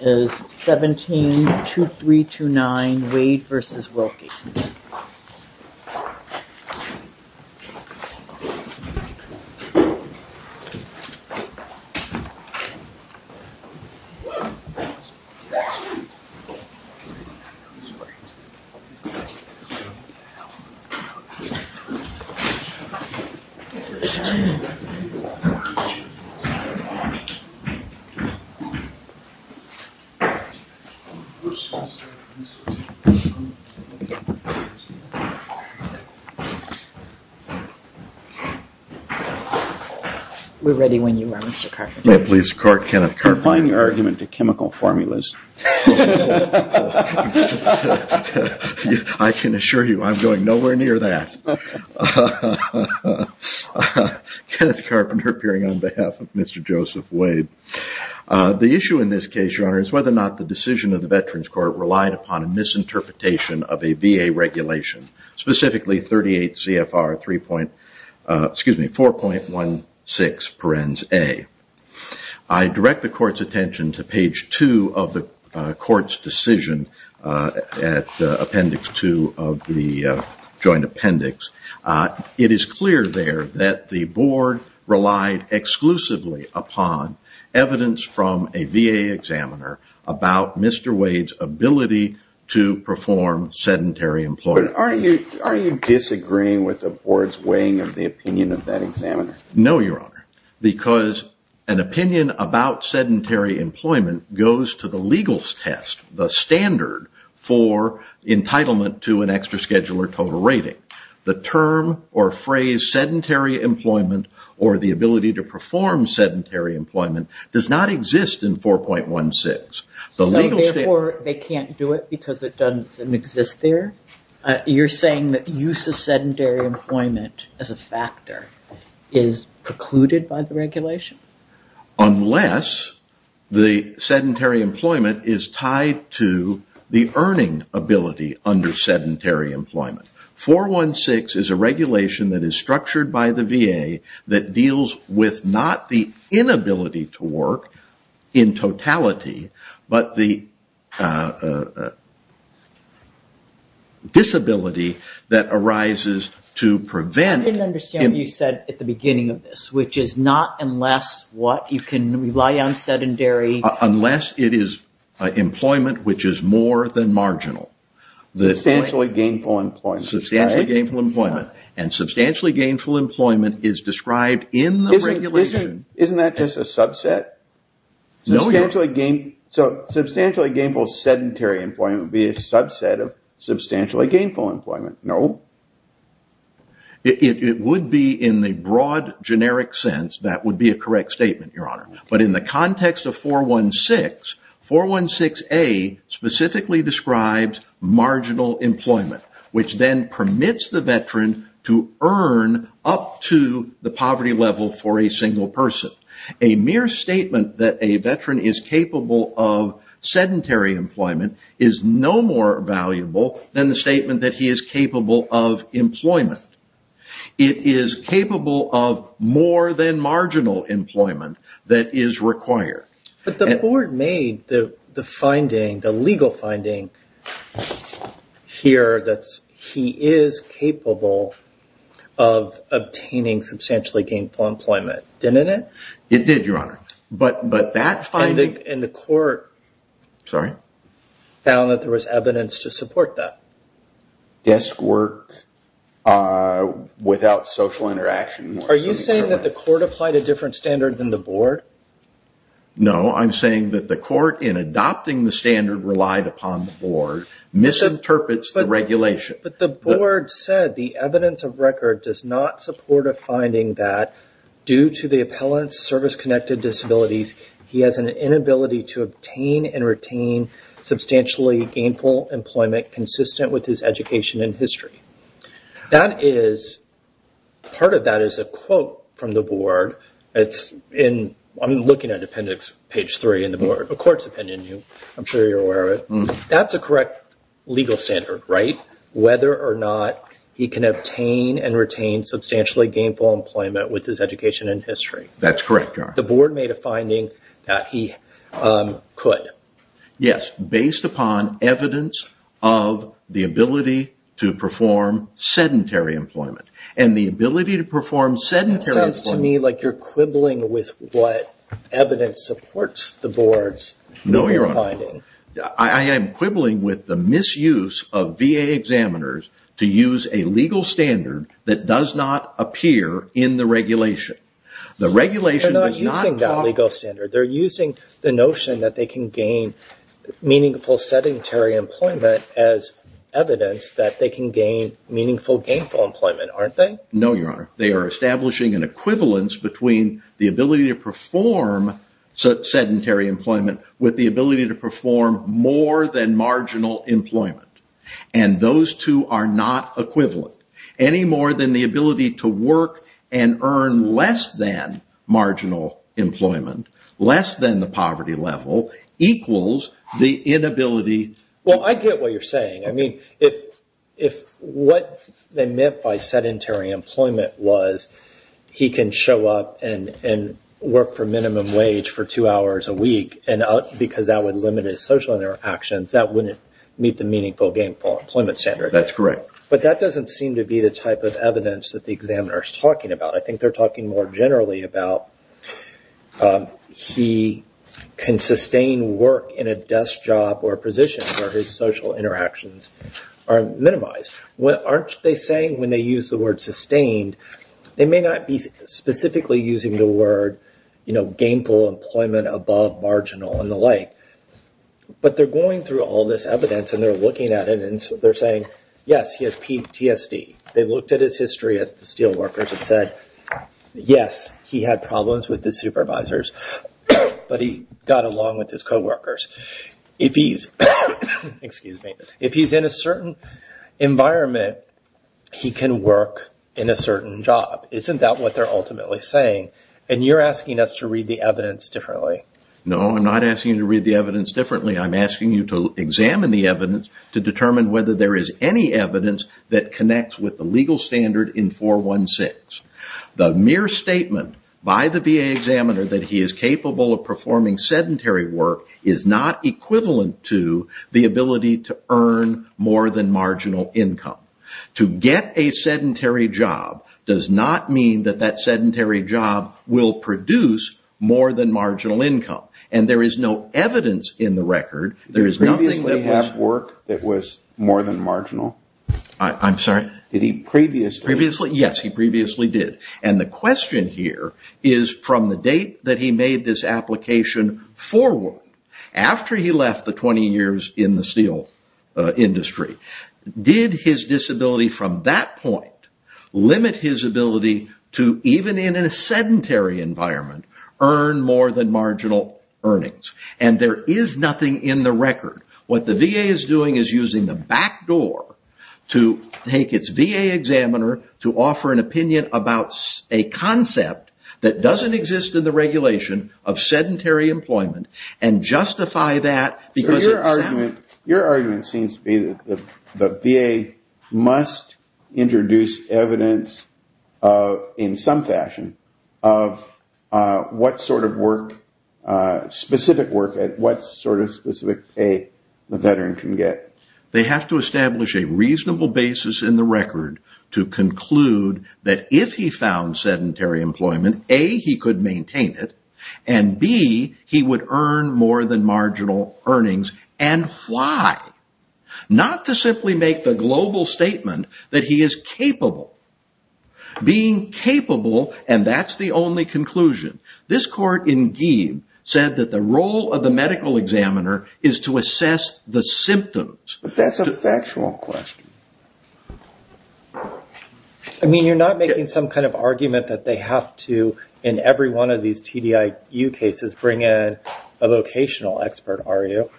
172329 Wade v. Wilkie We're ready when you are, Mr. Carpenter. Yeah, please start, Kenneth Carpenter. Defying argument to chemical formulas. I can assure you I'm going nowhere near that. Kenneth Carpenter appearing on behalf of Mr. Joseph Wade. The issue in this case, Your Honor, is whether or not the decision of the Veterans Court relied upon a misinterpretation of a VA regulation, specifically 38 CFR 3. Excuse me, 4.16 perens A. I direct the court's attention to page two of the court's decision at appendix two of the joint appendix. It is clear there that the board relied exclusively upon evidence from a VA examiner about Mr. Wade's ability to perform sedentary employment. Are you disagreeing with the board's weighing of the opinion of that examiner? No, Your Honor, because an opinion about sedentary employment goes to the legal test, the standard for entitlement to an extra scheduler total rating. The term or phrase sedentary employment or the ability to perform sedentary employment does not exist in 4.16. Therefore, they can't do it because it doesn't exist there? You're saying that the use of sedentary employment as a factor is precluded by the regulation? Unless the sedentary employment is tied to the earning ability under sedentary employment. 4.16 is a regulation that is structured by the VA that deals with not the inability to work in totality, but the disability that arises to prevent... You can rely on sedentary... Unless it is employment which is more than marginal. Substantially gainful employment. Substantially gainful employment. Substantially gainful employment is described in the regulation... Isn't that just a subset? Substantially gainful sedentary employment would be a subset of substantially gainful employment. No. It would be in the broad generic sense that would be a correct statement, Your Honor. But in the context of 4.16, 4.16A specifically describes marginal employment, which then permits the veteran to earn up to the poverty level for a single person. A mere statement that a veteran is capable of sedentary employment is no more valuable than the statement that he is capable of employment. It is capable of more than marginal employment that is required. But the board made the legal finding here that he is capable of obtaining substantially gainful employment, didn't it? It did, Your Honor. But that finding... And the court found that there was evidence to support that. Desk work without social interaction... Are you saying that the court applied a different standard than the board? No, I'm saying that the court in adopting the standard relied upon the board misinterprets the regulation. But the board said the evidence of record does not support a finding that due to the appellant's service-connected disabilities, he has an inability to obtain and retain substantially gainful employment consistent with his education and history. Part of that is a quote from the board. I'm looking at appendix page three in the board. The court's opinion, I'm sure you're aware of it. That's a correct legal standard, right? Whether or not he can obtain and retain substantially gainful employment with his education and history. That's correct, Your Honor. The board made a finding that he could. Yes, based upon evidence of the ability to perform sedentary employment. And the ability to perform sedentary employment... That sounds to me like you're quibbling with what evidence supports the board's legal finding. No, Your Honor. I am quibbling with the misuse of VA examiners to use a legal standard that does not appear in the regulation. They're not using that legal standard. They're using the notion that they can gain meaningful sedentary employment as evidence that they can gain meaningful gainful employment, aren't they? No, Your Honor. They are establishing an equivalence between the ability to perform sedentary employment with the ability to perform more than marginal employment. And those two are not equivalent. Any more than the ability to work and earn less than marginal employment, less than the poverty level, equals the inability... Well, I get what you're saying. I mean, if what they meant by sedentary employment was he can show up and work for minimum wage for two hours a week, and because that would limit his social interactions, that wouldn't meet the meaningful gainful employment standard. That's correct. But that doesn't seem to be the type of evidence that the examiner is talking about. I think they're talking more generally about he can sustain work in a desk job or position where his social interactions are minimized. Aren't they saying when they use the word sustained, they may not be specifically using the word gainful employment above marginal and the like, but they're going through all this evidence and they're looking at it and they're saying, yes, he has PTSD. They looked at his history at the steel workers and said, yes, he had problems with the supervisors, but he got along with his coworkers. If he's in a certain environment, he can work in a certain job. Isn't that what they're ultimately saying? And you're asking us to read the evidence differently. No, I'm not asking you to read the evidence differently. I'm asking you to examine the evidence to determine whether there is any evidence that connects with the legal standard in 416. The mere statement by the VA examiner that he is capable of performing sedentary work is not equivalent to the ability to earn more than marginal income. To get a sedentary job does not mean that that sedentary job will produce more than marginal income. And there is no evidence in the record. Did he previously have work that was more than marginal? I'm sorry? Did he previously? Yes, he previously did. And the question here is from the date that he made this application forward, after he left the 20 years in the steel industry, did his disability from that point limit his ability to, even in a sedentary environment, earn more than marginal earnings? What the VA is doing is using the back door to take its VA examiner to offer an opinion about a concept that doesn't exist in the regulation of sedentary employment and justify that. Your argument seems to be that the VA must introduce evidence in some fashion of what sort of work, specific work, what sort of specific pay the veteran can get. They have to establish a reasonable basis in the record to conclude that if he found sedentary employment, A, he could maintain it, and B, he would earn more than marginal earnings. And why? Not to simply make the global statement that he is capable. Being capable, and that's the only conclusion. This court indeed said that the role of the medical examiner is to assess the symptoms. But that's a factual question. I mean, you're not making some kind of argument that they have to, in every one of these TDIU cases, bring in a vocational expert, are you?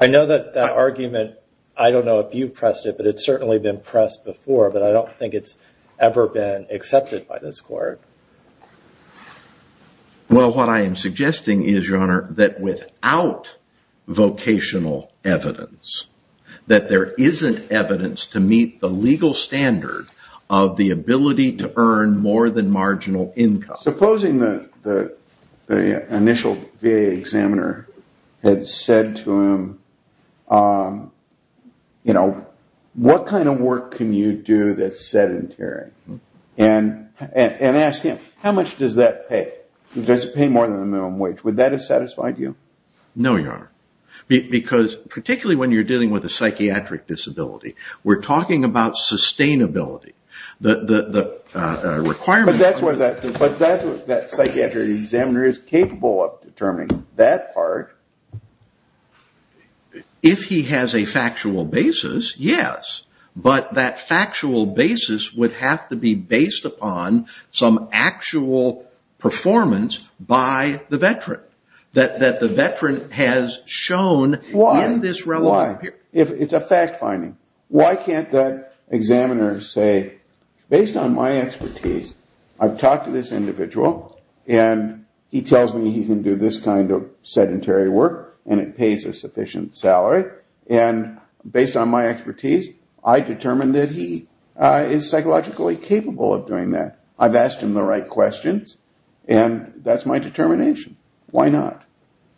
I know that that argument, I don't know if you've pressed it, but it's certainly been pressed before, but I don't think it's ever been accepted by this court. Well, what I am suggesting is, Your Honor, that without vocational evidence, that there isn't evidence to meet the legal standard of the ability to earn more than marginal income. Supposing the initial VA examiner had said to him, you know, what kind of work can you do that's sedentary? And ask him, how much does that pay? Does it pay more than the minimum wage? Would that have satisfied you? No, Your Honor. Because particularly when you're dealing with a psychiatric disability, we're talking about sustainability. But that psychiatric examiner is capable of determining that part. If he has a factual basis, yes. But that factual basis would have to be based upon some actual performance by the veteran. That the veteran has shown in this relevant period. Why? It's a fact-finding. Why can't that examiner say, based on my expertise, I've talked to this individual, and he tells me he can do this kind of sedentary work, and it pays a sufficient salary. And based on my expertise, I determine that he is psychologically capable of doing that. I've asked him the right questions, and that's my determination. Why not?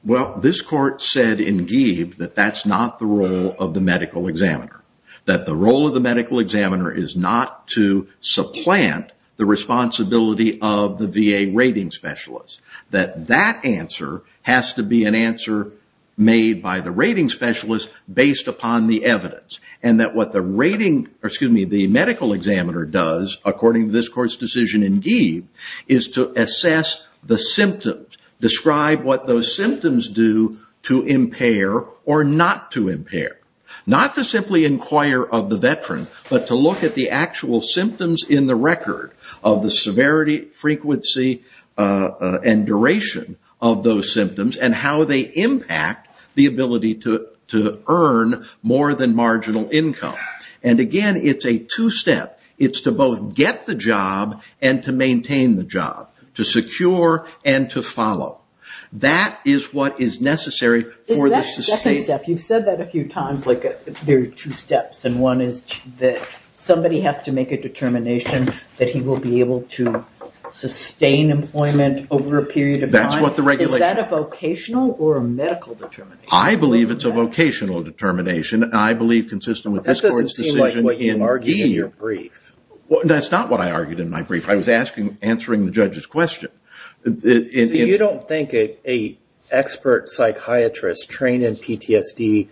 Well, this court said in Gieb that that's not the role of the medical examiner. That the role of the medical examiner is not to supplant the responsibility of the VA rating specialist. That that answer has to be an answer made by the rating specialist based upon the evidence. And that what the medical examiner does, according to this court's decision in Gieb, is to assess the symptoms. Describe what those symptoms do to impair or not to impair. Not to simply inquire of the veteran, but to look at the actual symptoms in the record of the severity, frequency, and duration of those symptoms. And how they impact the ability to earn more than marginal income. And again, it's a two-step. It's to both get the job and to maintain the job. To secure and to follow. That is what is necessary for the sustained... Is that a second step? You've said that a few times, like there are two steps. And one is that somebody has to make a determination that he will be able to sustain employment over a period of time. That's what the regulation... Is that a vocational or a medical determination? I believe it's a vocational determination. That doesn't seem like what you argued in your brief. That's not what I argued in my brief. I was answering the judge's question. You don't think an expert psychiatrist trained in PTSD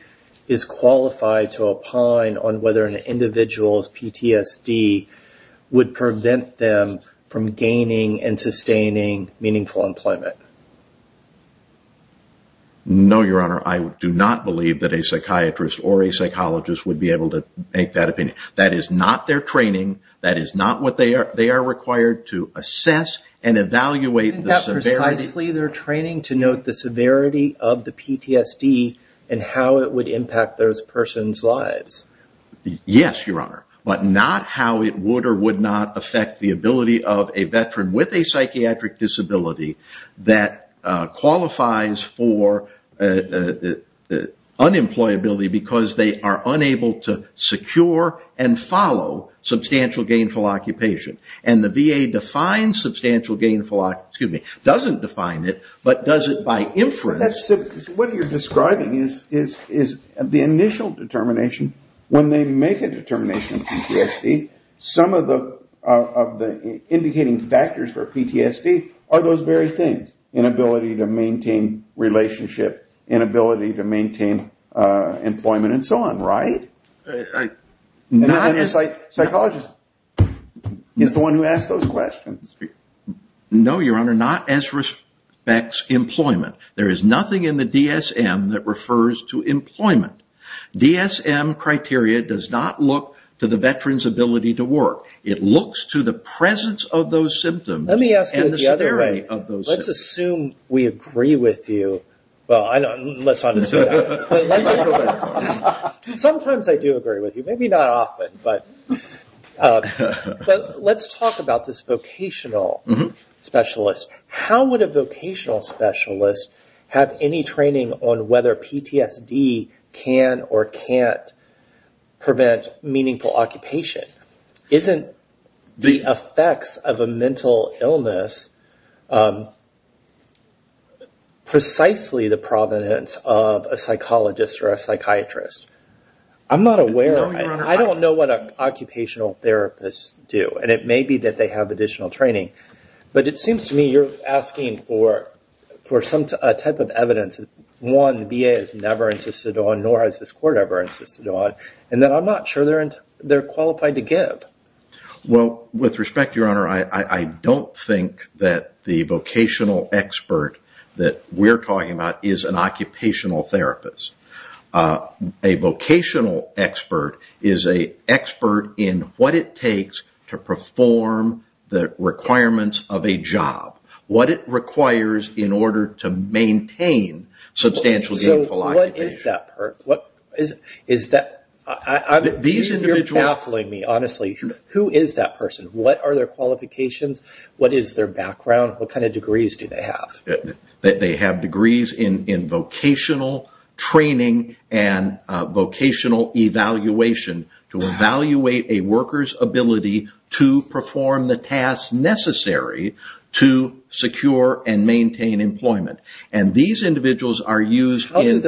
is qualified to opine on whether an individual's PTSD would prevent them from gaining and sustaining meaningful employment? No, Your Honor. I do not believe that a psychiatrist or a psychologist would be able to make that opinion. That is not their training. That is not what they are... They are required to assess and evaluate the severity... Isn't that precisely their training to note the severity of the PTSD and how it would impact those person's lives? Yes, Your Honor. But not how it would or would not affect the ability of a veteran with a psychiatric disability that qualifies for unemployability because they are unable to secure and follow substantial gainful occupation. And the VA defines substantial gainful... Excuse me. Doesn't define it, but does it by inference... What you're describing is the initial determination. When they make a determination of PTSD, some of the indicating factors for PTSD are those very things. Inability to maintain relationship, inability to maintain employment, and so on, right? Not as... And the psychologist is the one who asks those questions. No, Your Honor. Not as respects employment. There is nothing in the DSM that refers to employment. DSM criteria does not look to the veteran's ability to work. It looks to the presence of those symptoms and the severity of those symptoms. Let me ask you this the other way. Let's assume we agree with you. Well, let's not assume that. Sometimes I do agree with you. Maybe not often. But let's talk about this vocational specialist. How would a vocational specialist have any training on whether PTSD can or can't prevent meaningful occupation? Isn't the effects of a mental illness precisely the provenance of a psychologist or a psychiatrist? I'm not aware. I don't know what an occupational therapist do. And it may be that they have additional training. But it seems to me you're asking for some type of evidence. One, the VA has never insisted on, nor has this court ever insisted on, and that I'm not sure they're qualified to give. Well, with respect, Your Honor, I don't think that the vocational expert that we're talking about is an occupational therapist. A vocational expert is an expert in what it takes to perform the requirements of a job, what it requires in order to maintain substantial gainful occupation. So what is that? You're baffling me, honestly. Who is that person? What are their qualifications? What is their background? What kind of degrees do they have? They have degrees in vocational training and vocational evaluation to evaluate a worker's ability to perform the tasks necessary to secure and maintain employment. And these individuals are used in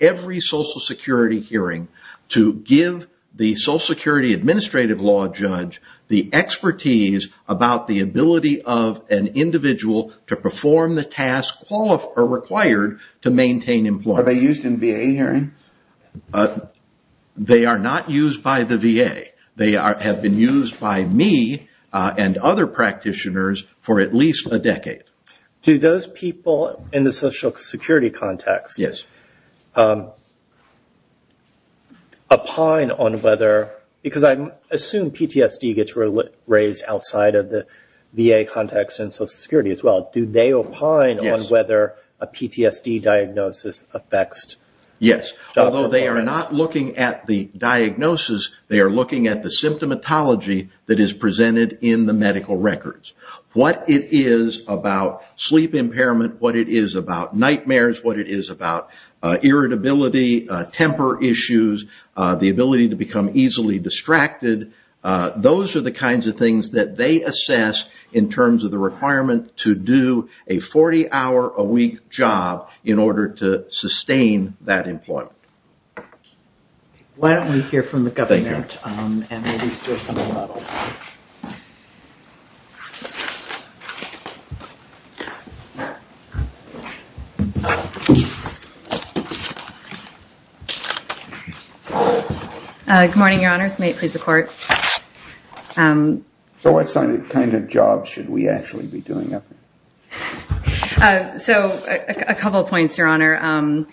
every social security hearing to give the social security administrative law judge the expertise about the ability of an individual to perform the tasks required to maintain employment. Are they used in VA hearings? They are not used by the VA. They have been used by me and other practitioners for at least a decade. Do those people in the social security context opine on whether... Because I assume PTSD gets raised outside of the VA context and social security as well. Do they opine on whether a PTSD diagnosis affects... Yes. Although they are not looking at the diagnosis, they are looking at the symptomatology that is presented in the medical records. What it is about sleep impairment, what it is about nightmares, what it is about irritability, temper issues, the ability to become easily distracted. Those are the kinds of things that they assess in terms of the requirement to do a 40-hour-a-week job in order to sustain that employment. Thank you. I'm going to release this. Good morning, Your Honors. May it please the Court. So what kind of jobs should we actually be doing? So a couple of points, Your Honor.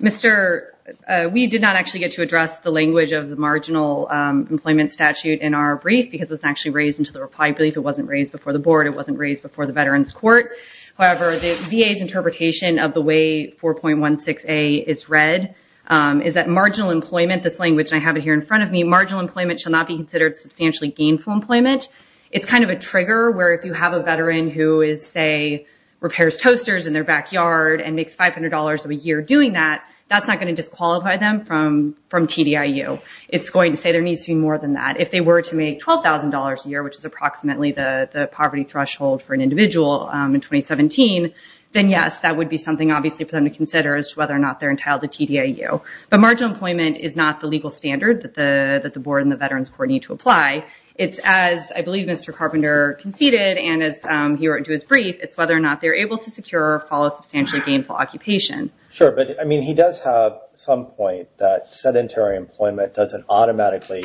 We did not actually get to address the language of the marginal employment statute in our brief because it was actually raised into the reply brief. It wasn't raised before the Board. It wasn't raised before the Veterans Court. However, the VA's interpretation of the way 4.16a is read is that marginal employment, this language, and I have it here in front of me, marginal employment shall not be considered substantially gainful employment. It's kind of a trigger where if you have a veteran who is, say, makes $500 a year doing that, that's not going to disqualify them from TDIU. It's going to say there needs to be more than that. If they were to make $12,000 a year, which is approximately the poverty threshold for an individual in 2017, then, yes, that would be something, obviously, for them to consider as to whether or not they're entitled to TDIU. But marginal employment is not the legal standard that the Board and the Veterans Court need to apply. It's, as I believe Mr. Carpenter conceded and as he wrote into his brief, it's whether or not they're able to secure or follow substantially gainful occupation. Sure, but, I mean, he does have some point that sedentary employment doesn't automatically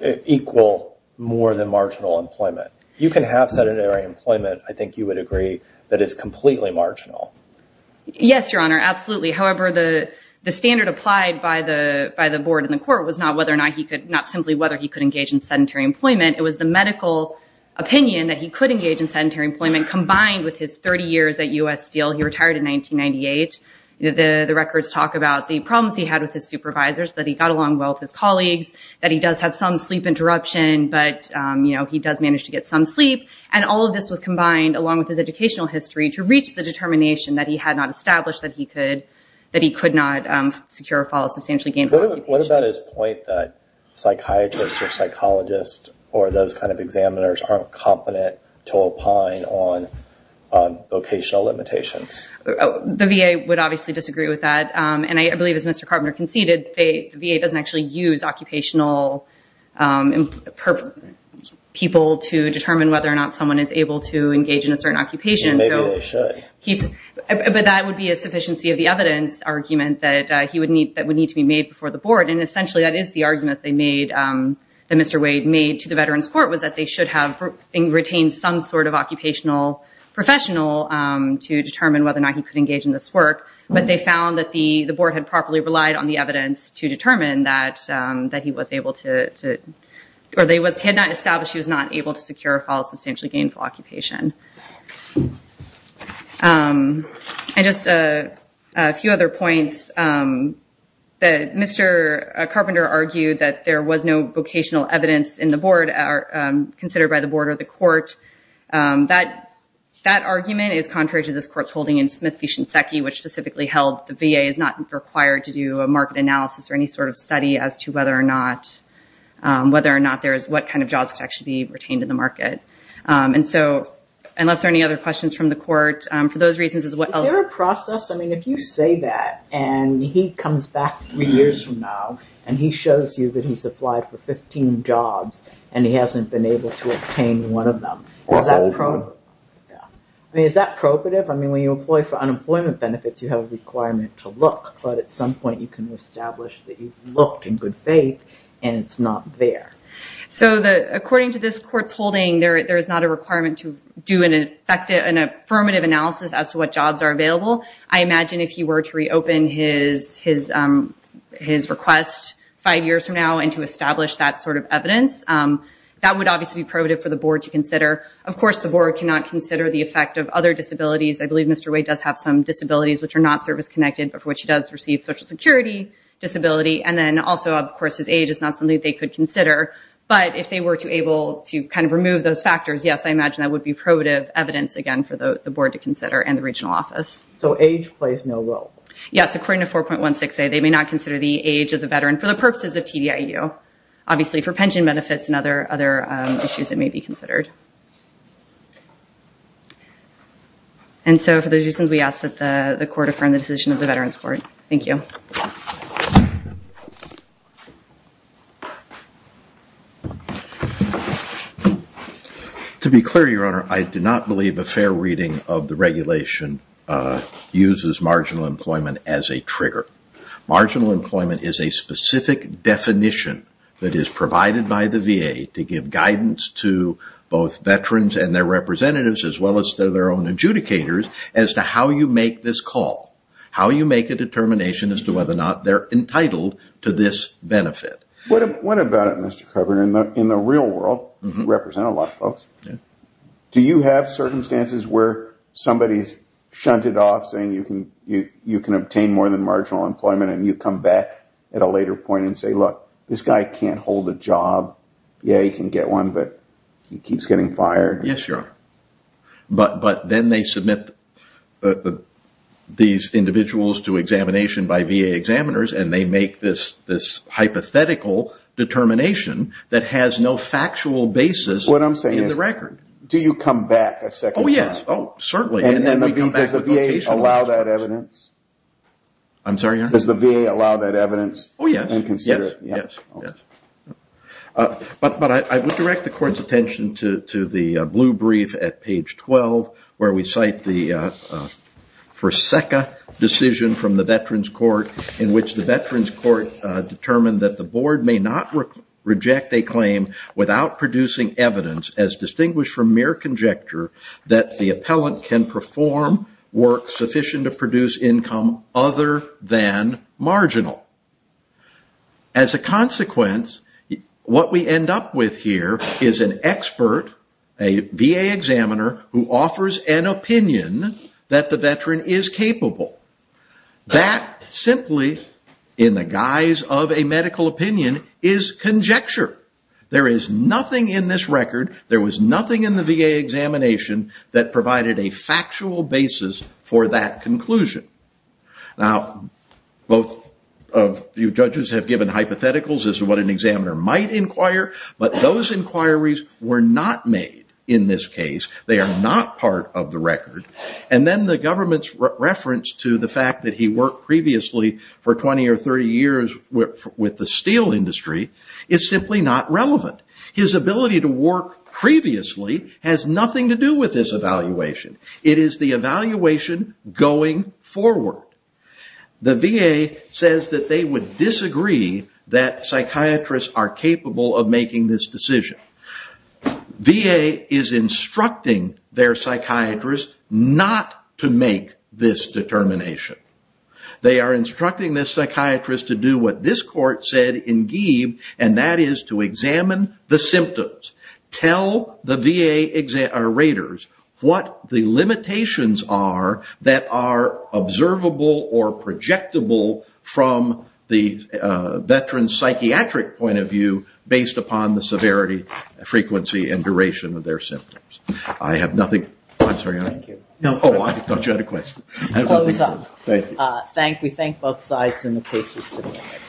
equal more than marginal employment. You can have sedentary employment, I think you would agree, that is completely marginal. Yes, Your Honor, absolutely. However, the standard applied by the Board and the Court was not simply whether he could engage in sedentary employment. It was the medical opinion that he could engage in sedentary employment combined with his 30 years at U.S. Steel. He retired in 1998. The records talk about the problems he had with his supervisors, that he got along well with his colleagues, that he does have some sleep interruption, but he does manage to get some sleep. And all of this was combined along with his educational history to reach the determination that he had not established that he could not secure or follow substantially gainful occupation. What about his point that psychiatrists or psychologists or those kind of examiners aren't competent to opine on vocational limitations? The VA would obviously disagree with that. And I believe, as Mr. Carpenter conceded, the VA doesn't actually use occupational people to determine whether or not someone is able to engage in a certain occupation. Maybe they should. But that would be a sufficiency of the evidence argument that would need to be made before the board. And essentially, that is the argument that Mr. Wade made to the Veterans Court, was that they should have retained some sort of occupational professional to determine whether or not he could engage in this work. But they found that the board had properly relied on the evidence to determine that he was able to or had not established he was not able to secure or follow substantially gainful occupation. And just a few other points. Mr. Carpenter argued that there was no vocational evidence in the board considered by the board or the court. That argument is contrary to this court's holding in Smith v. Shinseki, which specifically held the VA is not required to do a market analysis or any sort of study as to whether or not there is what kind of jobs that should be retained in the market. Unless there are any other questions from the court, for those reasons... Is there a process? I mean, if you say that and he comes back three years from now and he shows you that he's applied for 15 jobs and he hasn't been able to obtain one of them, is that probative? I mean, is that probative? I mean, when you employ for unemployment benefits, you have a requirement to look. But at some point, you can establish that you've looked in good faith and it's not there. So according to this court's holding, there is not a requirement to do an affirmative analysis as to what jobs are available. I imagine if he were to reopen his request five years from now and to establish that sort of evidence, that would obviously be probative for the board to consider. Of course, the board cannot consider the effect of other disabilities. I believe Mr. Wade does have some disabilities which are not service-connected, but for which he does receive Social Security disability. And then also, of course, his age is not something they could consider. But if they were to be able to kind of remove those factors, yes, I imagine that would be probative evidence again for the board to consider and the regional office. So age plays no role? Yes, according to 4.16a, they may not consider the age of the veteran for the purposes of TDIU, obviously for pension benefits and other issues that may be considered. And so for those reasons, we ask that the court affirm the decision of the Veterans Court. Thank you. Thank you. To be clear, Your Honor, I do not believe a fair reading of the regulation uses marginal employment as a trigger. Marginal employment is a specific definition that is provided by the VA to give guidance to both veterans and their representatives as well as to their own adjudicators as to how you make this call, how you make a determination as to whether or not they're entitled to this benefit. What about it, Mr. Kober? In the real world, you represent a lot of folks. Do you have circumstances where somebody's shunted off saying you can obtain more than marginal employment and you come back at a later point and say, look, this guy can't hold a job. Yeah, he can get one, but he keeps getting fired. Yes, Your Honor. But then they submit these individuals to examination by VA examiners and they make this hypothetical determination that has no factual basis in the record. What I'm saying is, do you come back a second time? Oh, yes. Oh, certainly. Does the VA allow that evidence? I'm sorry, Your Honor? Does the VA allow that evidence? Oh, yes. And consider it? Yes. But I would direct the Court's attention to the blue brief at page 12 where we cite the for SECA decision from the Veterans Court in which the Veterans Court determined that the board may not reject a claim without producing evidence as distinguished from mere conjecture that the appellant can perform work sufficient to produce income other than marginal. As a consequence, what we end up with here is an expert, a VA examiner who offers an opinion that the veteran is capable. That simply, in the guise of a medical opinion, is conjecture. There is nothing in this record, there was nothing in the VA examination that provided a factual basis for that conclusion. Now, both of you judges have given hypotheticals as to what an examiner might inquire, but those inquiries were not made in this case. They are not part of the record. And then the government's reference to the fact that he worked previously for 20 or 30 years with the steel industry is simply not relevant. His ability to work previously has nothing to do with this evaluation. It is the evaluation going forward. The VA says that they would disagree that psychiatrists are capable of making this decision. VA is instructing their psychiatrist not to make this determination. They are instructing this psychiatrist to do what this court said in Gieb, and that is to examine the symptoms. Tell the VA raters what the limitations are that are observable or projectable from the veteran's psychiatric point of view based upon the severity, frequency, and duration of their symptoms. I have nothing... I'm sorry, I... Thank you. Oh, I thought you had a question. Close-up. Thank you. We thank both sides in the cases to the right.